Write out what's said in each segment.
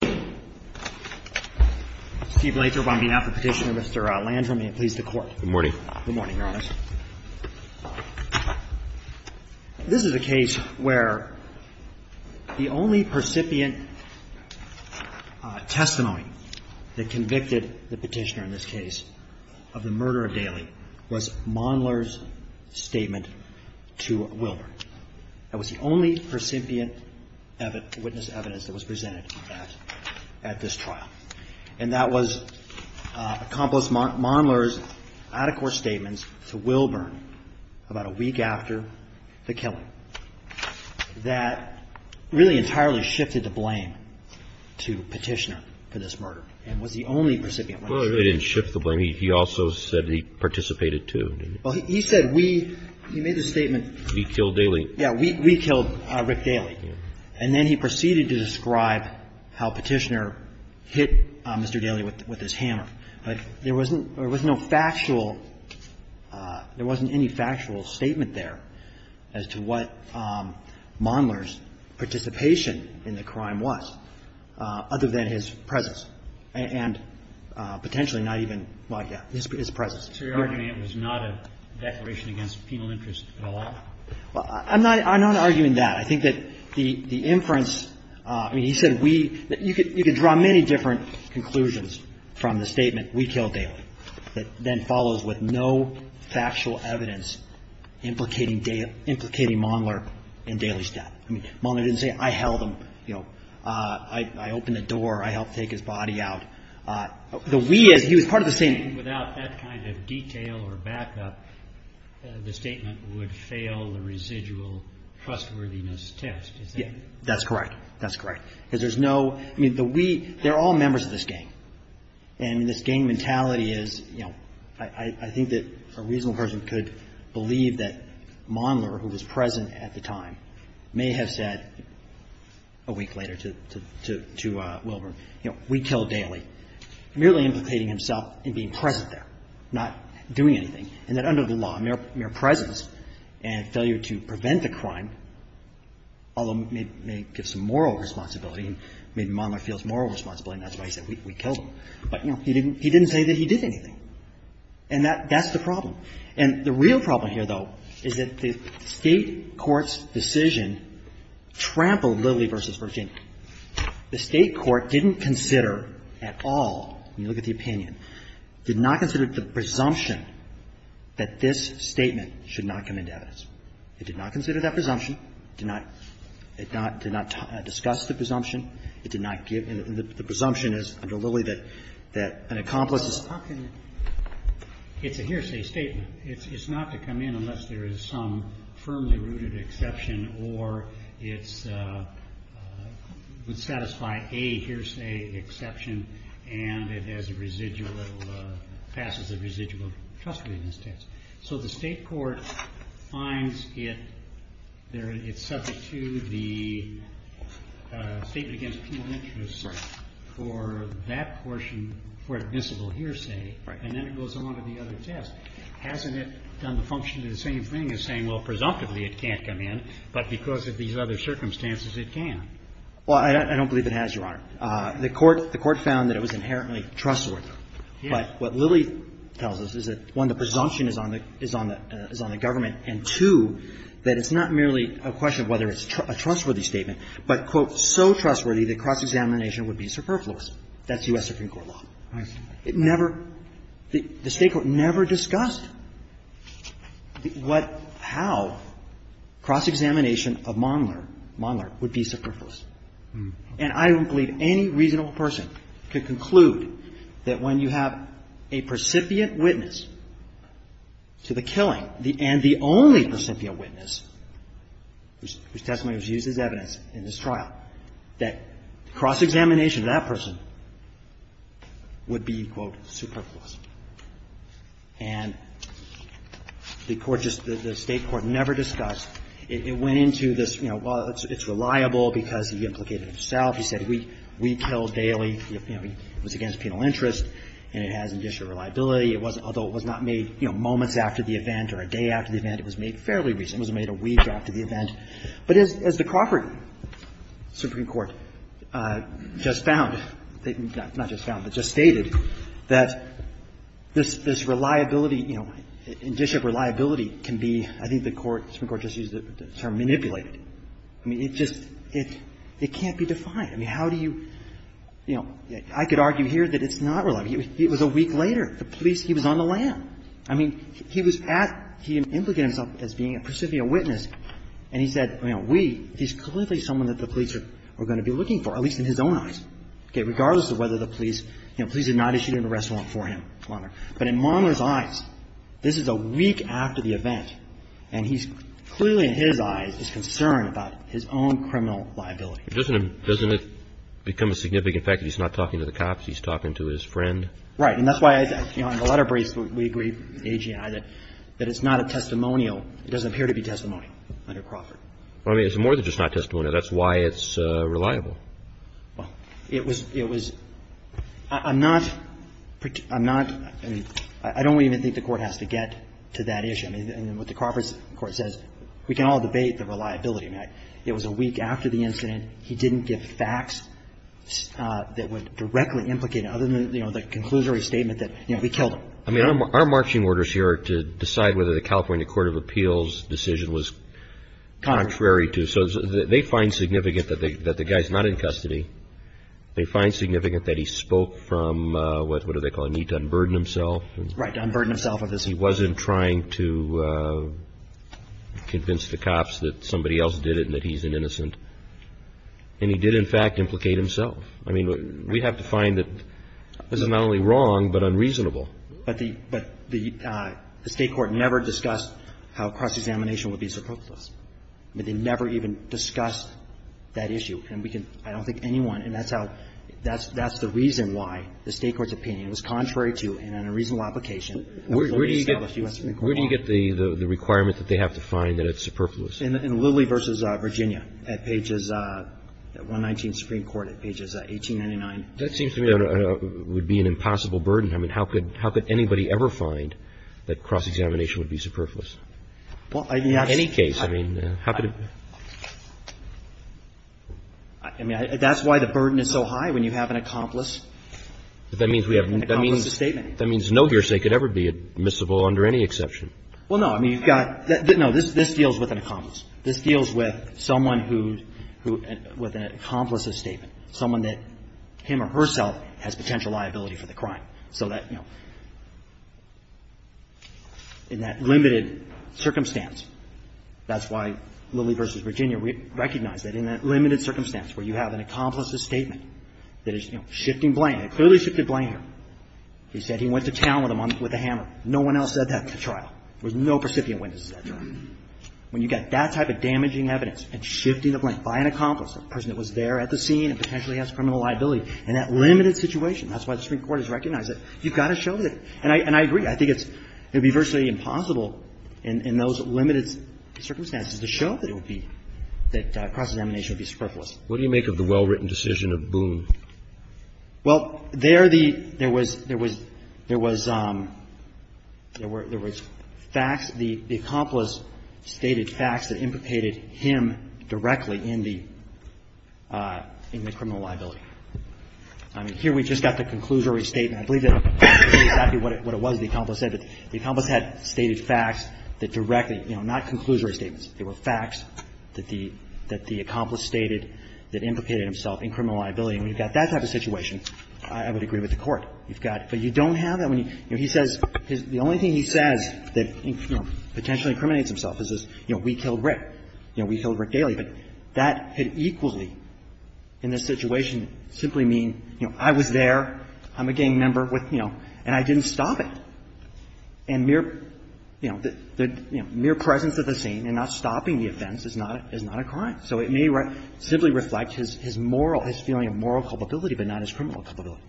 Good morning, Your Honor. This is a case where the only percipient testimony that convicted the petitioner in this case of the murder of Daly was Mondler's statement to Wilbur. That was the only percipient witness evidence that was presented at this trial, and that was Accomplice Mondler's adequate statements to Wilbur about a week after the killing. That really entirely shifted the blame to the petitioner for this murder, and was the only percipient witness. JUSTICE KENNEDY Well, it really didn't shift the blame. He also said he participated, too, didn't he? CAREY He said, we – he made the statement – JUSTICE ANTHONY KENNEDY We killed Daly. CAREY Yeah. We killed Rick Daly. And then he proceeded to describe how Petitioner hit Mr. Daly with his hammer. But there wasn't – there was no factual – there wasn't any factual statement there as to what Mondler's participation in the crime was, other than his presence, and potentially not even – well, yeah, his presence. JUSTICE KENNEDY So you're arguing it was not a declaration against penal interest at all? CAREY I'm not – I'm not arguing that. I think that the inference – I mean, he said we – you could draw many different conclusions from the statement, we killed Daly, that then follows with no factual evidence implicating Daly – implicating Mondler in Daly's death. I mean, Mondler didn't say, I held him, you know, I opened the door, I helped take his body out. The we is – he was part of the statement. JUSTICE KENNEDY Without that kind of detail or backup, the statement would fail the residual trustworthiness test. Is that correct? CAREY That's correct. That's correct. Because there's no – I mean, the we – they're all members of this gang. And this gang mentality is, you know, I think that a reasonable person could believe that Mondler, who was present at the time, may have said a week later to Wilburn, you know, we killed Daly, merely implicating himself in being present there, not doing anything. And that under the law, mere presence and failure to prevent a crime, although may give some moral responsibility, and maybe Mondler feels moral responsibility and that's why he said we killed him. But, you know, he didn't – he didn't say that he did anything. And that – that's the problem. And the real problem here, though, is that the State court's decision trampled Lilly v. Virginia. The State court didn't consider at all, when you look at the opinion, did not consider the presumption that this statement should not come into evidence. It did not consider that presumption, did not – it not – did not discuss the presumption. It did not give – and the presumption is under Lilly that – that an accomplice is – ROBERTS It's a hearsay statement. It's – it's not to come in unless there is some firmly rooted exception or it's – would satisfy a hearsay exception and it has a residual – passes a residual custody in this case. So the State court finds it – it's subject to the statement against penal interest for that portion for admissible hearsay. And then it goes on to the other test. Hasn't it done the function of the same thing as saying, well, presumptively it can't come in, but because of these other circumstances it can? Well, I don't believe it has, Your Honor. The court – the court found that it was inherently trustworthy. But what Lilly tells us is that, one, the presumption is on the – is on the government, and, two, that it's not merely a question of whether it's a trustworthy statement, but, quote, so trustworthy that cross-examination would be superfluous. That's U.S. Supreme Court law. It never – the State court never discussed what – how cross-examination of Mondler – Mondler would be superfluous. And I don't believe any reasonable person could conclude that when you have a precipiate witness to the killing and the only precipiate witness whose testimony was used as evidence in this trial, that cross-examination of that person would be, quote, superfluous. And the court just – the State court never discussed – it went into this, you know, well, it's reliable because he implicated himself. He said we kill daily. You know, it was against penal interest, and it has initial reliability. It was – although it was not made, you know, moments after the event or a day after the event, it was made fairly recently. It was made a week after the event. But as the Crawford Supreme Court just found – not just found, but just stated that this reliability, you know, in Bishop, reliability can be – I think the court – the Supreme Court just used the term manipulated. I mean, it just – it can't be defined. I mean, how do you – you know, I could argue here that it's not reliable. It was a week later. The police – he was on the lam. I mean, he was at – he implicated himself as being a precipiate witness, and he said, you know, we – he's clearly someone that the police are going to be looking for, at least in his own eyes. Okay, regardless of whether the police – you know, police did not issue an arrest warrant for him, but in Maulner's eyes, this is a week after the event, and he's – clearly in his eyes, he's concerned about his own criminal liability. Doesn't it become a significant fact that he's not talking to the cops, he's talking to his friend? Right. And that's why, you know, in the letter briefs, we agree, A.G. and I, that it's not a testimonial. It doesn't appear to be testimonial under Crawford. Well, I mean, it's more than just not testimonial. That's why it's reliable. Well, it was – it was – I'm not – I'm not – I mean, I don't even think the Court has to get to that issue. I mean, what the Crawford Court says, we can all debate the reliability. I mean, it was a week after the incident, he didn't give facts that would directly implicate him, other than, you know, the conclusory statement that, you know, we killed him. I mean, our marching orders here are to decide whether the California Court of Appeals decision was contrary to. So they find significant that the guy's not in custody. They find significant that he spoke from, what do they call it, a need to unburden himself. Right. To unburden himself of this. He wasn't trying to convince the cops that somebody else did it and that he's an innocent. And he did, in fact, implicate himself. I mean, we have to find that this is not only wrong, but unreasonable. But the State court never discussed how cross-examination would be surplus. I mean, they never even discussed that issue. And we can – I don't think anyone – and that's how – that's the reason why the State court's opinion was contrary to and in a reasonable application of the established U.S. Supreme Court law. Where do you get the requirement that they have to find that it's superfluous? In Lilly v. Virginia at pages – 119 Supreme Court at pages 1899. That seems to me would be an impossible burden. I mean, how could anybody ever find that cross-examination would be superfluous? In any case, I mean, how could it be? I mean, that's why the burden is so high when you have an accomplice. That means we have an accomplice's statement. That means no hearsay could ever be admissible under any exception. Well, no. I mean, you've got – no. This deals with an accomplice. This deals with someone who – with an accomplice's statement, someone that him or herself has potential liability for the crime. So that, you know, in that limited circumstance, that's why Lilly v. Virginia recognized that in that limited circumstance where you have an accomplice's statement that is, you know, shifting blame, it clearly shifted blame here. He said he went to town with a hammer. No one else said that at the trial. There was no recipient witness at that trial. When you've got that type of damaging evidence and shifting the blame by an accomplice, a person that was there at the scene and potentially has criminal liability, in that limited situation, that's why the Supreme Court has recognized it, you've got to show that. And I agree. I think it's – it would be virtually impossible in those limited circumstances to show that it would be – that cross-examination would be superfluous. What do you make of the well-written decision of Boone? Well, there the – there was – there was – there were – there was facts. The accomplice stated facts that implicated him directly in the – in the criminal liability. I mean, here we just got the conclusory statement. I believe that's exactly what it was the accomplice said. But the accomplice had stated facts that directly – you know, not conclusory statements. They were facts that the – that the accomplice stated that implicated himself in criminal liability. And when you've got that type of situation, I would agree with the Court. You've got – but you don't have that when you – you know, he says – the only thing he says that, you know, potentially incriminates himself is this, you know, we killed Rick. You know, we killed Rick Daly. But that had equally in this situation simply mean, you know, I was there. I'm a gang member with, you know – and I didn't stop it. And mere – you know, the – you know, mere presence of the scene and not stopping the offense is not – is not a crime. So it may simply reflect his – his moral – his feeling of moral culpability, but not his criminal culpability.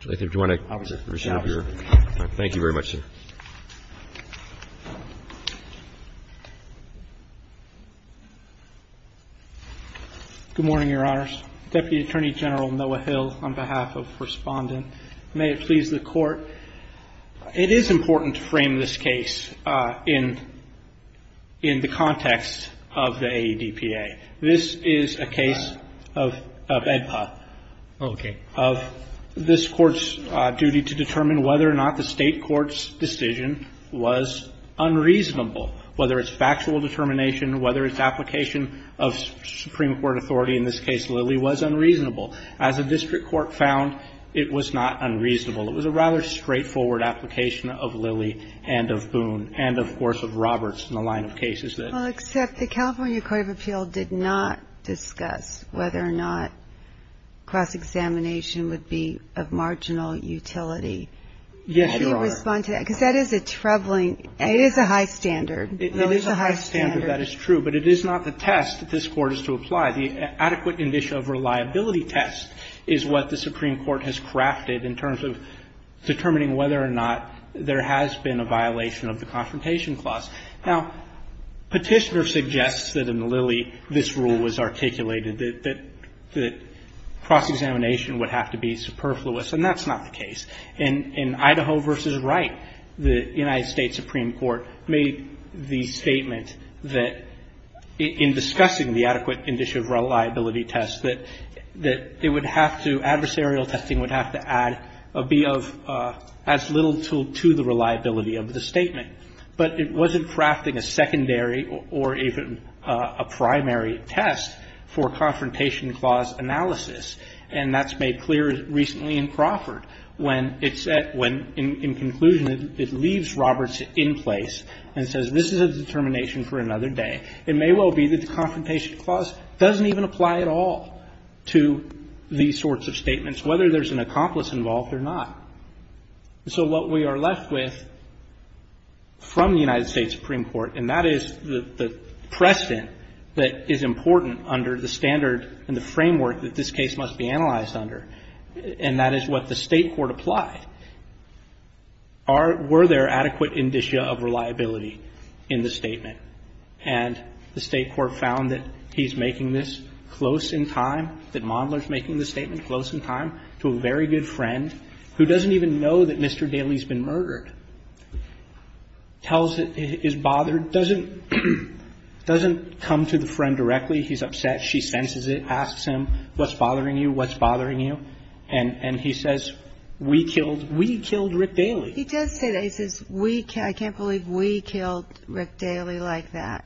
I think if you want to resume your time. Thank you very much, sir. Good morning, Your Honors. Deputy Attorney General Noah Hill on behalf of Respondent. May it please the Court. It is important to frame this case in – in the context of the AEDPA. This is a case of – of EDPA. Okay. This is a case of the Supreme Court's duty to determine whether or not the State Court's decision was unreasonable, whether it's factual determination, whether its application of Supreme Court authority, in this case Lilly, was unreasonable. As a district court found, it was not unreasonable. It was a rather straightforward application of Lilly and of Boone and, of course, of Roberts in the line of cases that – that we've discussed, whether or not cross-examination would be of marginal utility. Yes, Your Honor. How do you respond to that? Because that is a troubling – it is a high standard. It is a high standard. That is true, but it is not the test that this Court is to apply. The adequate indicia of reliability test is what the Supreme Court has crafted in terms of determining whether or not there has been a violation of the Confrontation Clause. Now, Petitioner suggests that in Lilly, this rule was articulated, that cross-examination would have to be superfluous, and that's not the case. In Idaho v. Wright, the United States Supreme Court made the statement that, in discussing the adequate indicia of reliability test, that it would have to – adversarial testing would have to add a B of as little to the reliability of the statement. But it wasn't crafting a secondary or even a primary test for Confrontation Clause analysis, and that's made clear recently in Crawford, when it said – when, in conclusion, it leaves Roberts in place and says, this is a determination for another day. It may well be that the Confrontation Clause doesn't even apply at all to these sorts of statements, whether there's an accomplice involved or not. So what we are left with from the United States Supreme Court, and that is the precedent that is important under the standard and the framework that this case must be analyzed under, and that is what the State court applied. Are – were there adequate indicia of reliability in the statement? And the State court found that he's making this close in time, that Mondler's making this statement close in time to a very good friend, who doesn't even know that Mr. Daley's been murdered, tells – is bothered, doesn't – doesn't come to the friend directly. He's upset. She senses it, asks him, what's bothering you? What's bothering you? And he says, we killed – we killed Rick Daley. He does say that. He says, we – I can't believe we killed Rick Daley like that.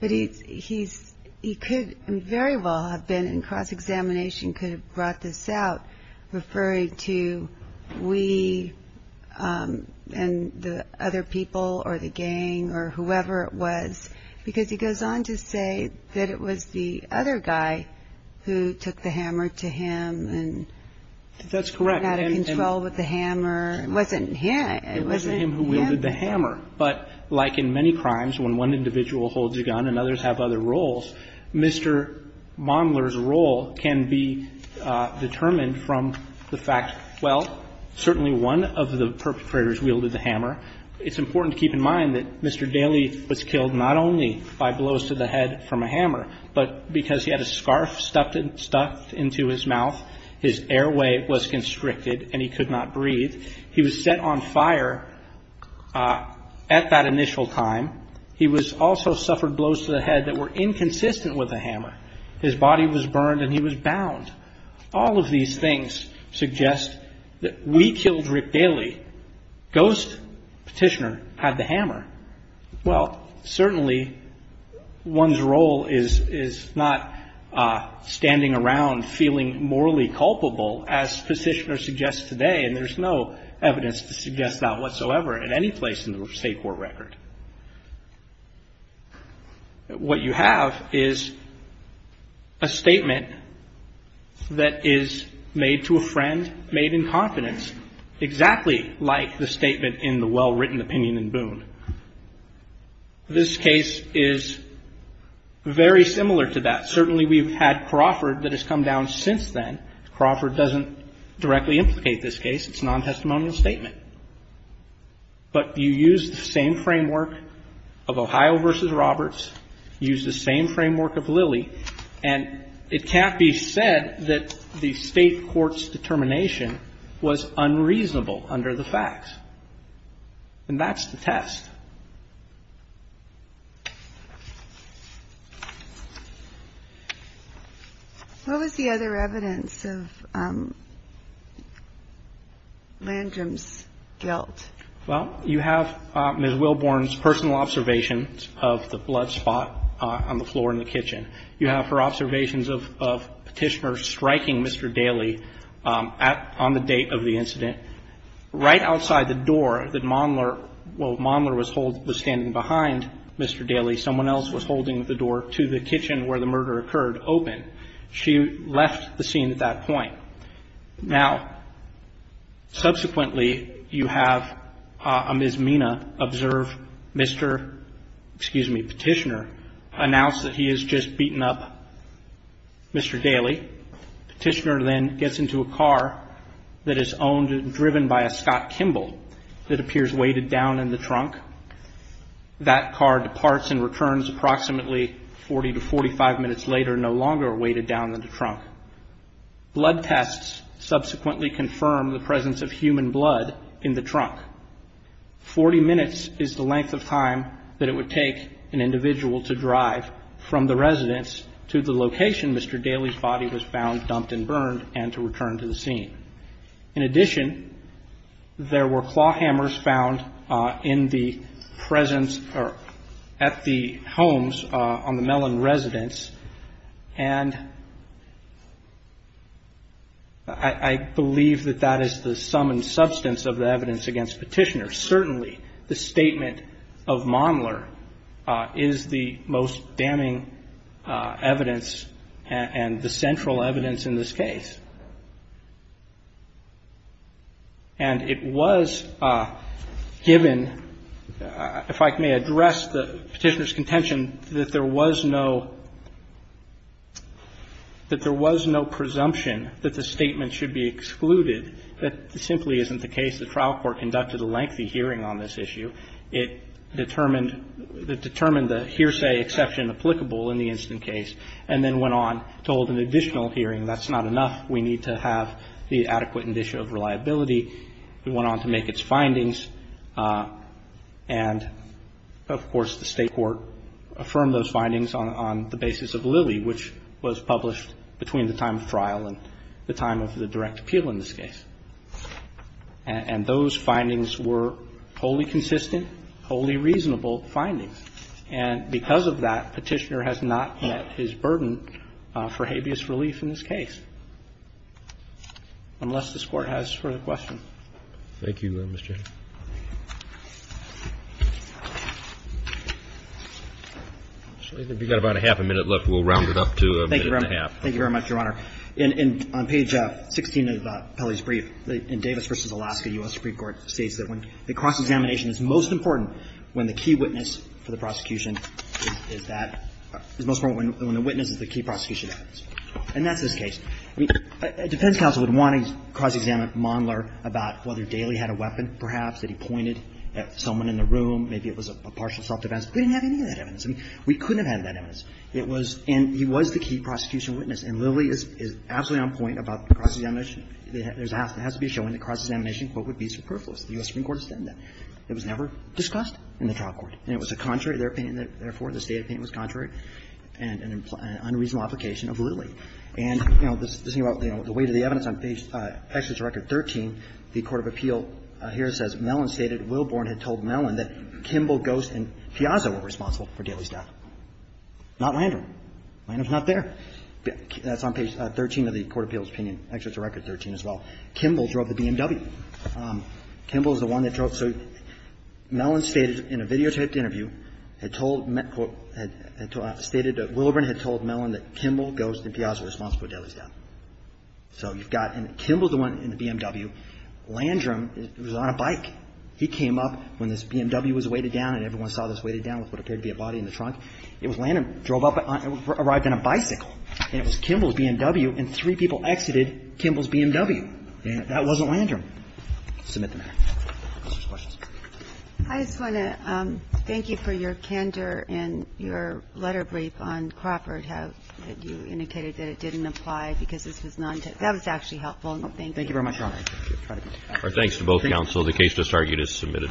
But he's – he's – he could very well have been in cross-examination, could have brought this out, referring to we and the other people or the gang or whoever it was, because he goes on to say that it was the other guy who took the hammer to him and – That's correct. – got out of control with the hammer. It wasn't him. It wasn't him who wielded the hammer. But like in many crimes, when one individual holds a gun and others have other roles, Mr. Mondler's role can be determined from the fact, well, certainly one of the perpetrators wielded the hammer. It's important to keep in mind that Mr. Daley was killed not only by blows to the head from a hammer, but because he had a scarf stuffed into his mouth, his airway was constricted, and he could not breathe. He was set on fire at that initial time. He also suffered blows to the head that were inconsistent with a hammer. His body was burned and he was bound. All of these things suggest that we killed Rick Daley. Ghost Petitioner had the hammer. Well, certainly one's role is not standing around feeling morally culpable, as I said, and I don't think there's any real evidence to suggest that whatsoever at any place in the State court record. What you have is a statement that is made to a friend, made in confidence, exactly like the statement in the well-written opinion in Boone. This case is very similar to that. Certainly we've had Crawford that has come down since then. Crawford doesn't directly implicate this case. It's a nontestimonial statement. But you use the same framework of Ohio v. Roberts, use the same framework of Lilly, and it can't be said that the State court's determination was unreasonable And that's the test. What was the other evidence of Landrum's guilt? Well, you have Ms. Wilborn's personal observations of the blood spot on the floor in the kitchen. You have her observations of Petitioner striking Mr. Daley on the date of the incident. Right outside the door that Mondler was standing behind Mr. Daley, someone else was holding the door to the kitchen where the murder occurred open. She left the scene at that point. Now, subsequently, you have Ms. Mina observe Mr., excuse me, Petitioner announce that he has just beaten up Mr. Daley. Petitioner then gets into a car that is owned and driven by a Scott Kimball that appears weighted down in the trunk. That car departs and returns approximately 40 to 45 minutes later, no longer weighted down in the trunk. Blood tests subsequently confirm the presence of human blood in the trunk. 40 minutes is the length of time that it would take an individual to drive from the residence to the location Mr. Daley's body was found dumped and burned and to return to the scene. In addition, there were claw hammers found in the presence or at the homes on the Mellon residence. And I believe that that is the sum and substance of the evidence against Petitioner. Certainly, the statement of Mondler is the most damning evidence and the central evidence in this case. And it was given, if I may address the Petitioner's contention, that there was no presumption that the statement should be excluded. That simply isn't the case. The trial court conducted a lengthy hearing on this issue. It determined the hearsay exception applicable in the instant case and then went on to hold an additional hearing. That's not enough. We need to have the adequate indicia of reliability. We went on to make its findings and, of course, the state court affirmed those findings on the basis of Lilly, which was published between the time of trial and the time of the direct appeal in this case. And those findings were wholly consistent, wholly reasonable findings. And because of that, Petitioner has not met his burden for habeas relief in this case. Unless this Court has further questions. Thank you, Mr. Haney. We've got about a half a minute left. We'll round it up to a minute and a half. Thank you very much, Your Honor. On page 16 of Pelley's brief, in Davis v. Alaska, U.S. Supreme Court states that when the cross-examination is most important, when the key witness for the prosecution is that – is most important when the witness is the key prosecution evidence. And that's this case. A defense counsel would want to cross-examine Mondler about whether Daley had a weapon, perhaps, that he pointed at someone in the room. Maybe it was a partial self-defense. We didn't have any of that evidence. I mean, we couldn't have had that evidence. It was – and he was the key prosecution witness. And Lilly is absolutely on point about cross-examination. There has to be a showing that cross-examination, quote, would be superfluous. The U.S. Supreme Court has said that. It was never discussed in the trial court. And it was contrary to their opinion. Therefore, the State opinion was contrary and an unreasonable application of Lilly. And, you know, the weight of the evidence on page – actually, it's record 13. The court of appeal here says, Mellon stated Willborn had told Mellon that Kimball, Ghost, and Piazza were responsible for Daley's death, not Landrum. Landrum's not there. That's on page 13 of the court of appeal's opinion. Actually, it's record 13 as well. Kimball drove the BMW. Kimball is the one that drove – so Mellon stated in a videotaped interview, had told – had stated that Willborn had told Mellon that Kimball, Ghost, and Piazza were responsible for Daley's death. So you've got – and Kimball's the one in the BMW. Landrum was on a bike. He came up when this BMW was weighted down, and everyone saw this weighted down with what appeared to be a body in the trunk. It was Landrum, drove up, arrived in a bicycle, and it was Kimball's BMW, and three people exited Kimball's BMW. And that wasn't Landrum. Submit the matter. Questions? I just want to thank you for your candor and your letter brief on Crawford House that you indicated that it didn't apply because this was not – that was actually helpful. Thank you. Thank you very much, Your Honor. Our thanks to both counsel. The case disargued is submitted.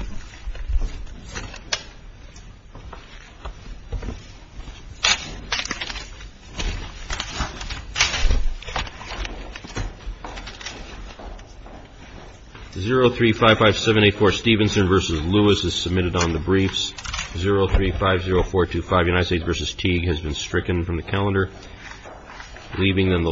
03-557-84 Stevenson v. Lewis is submitted on the briefs. 03-504-25 United States v. Teague has been stricken from the calendar, leaving then the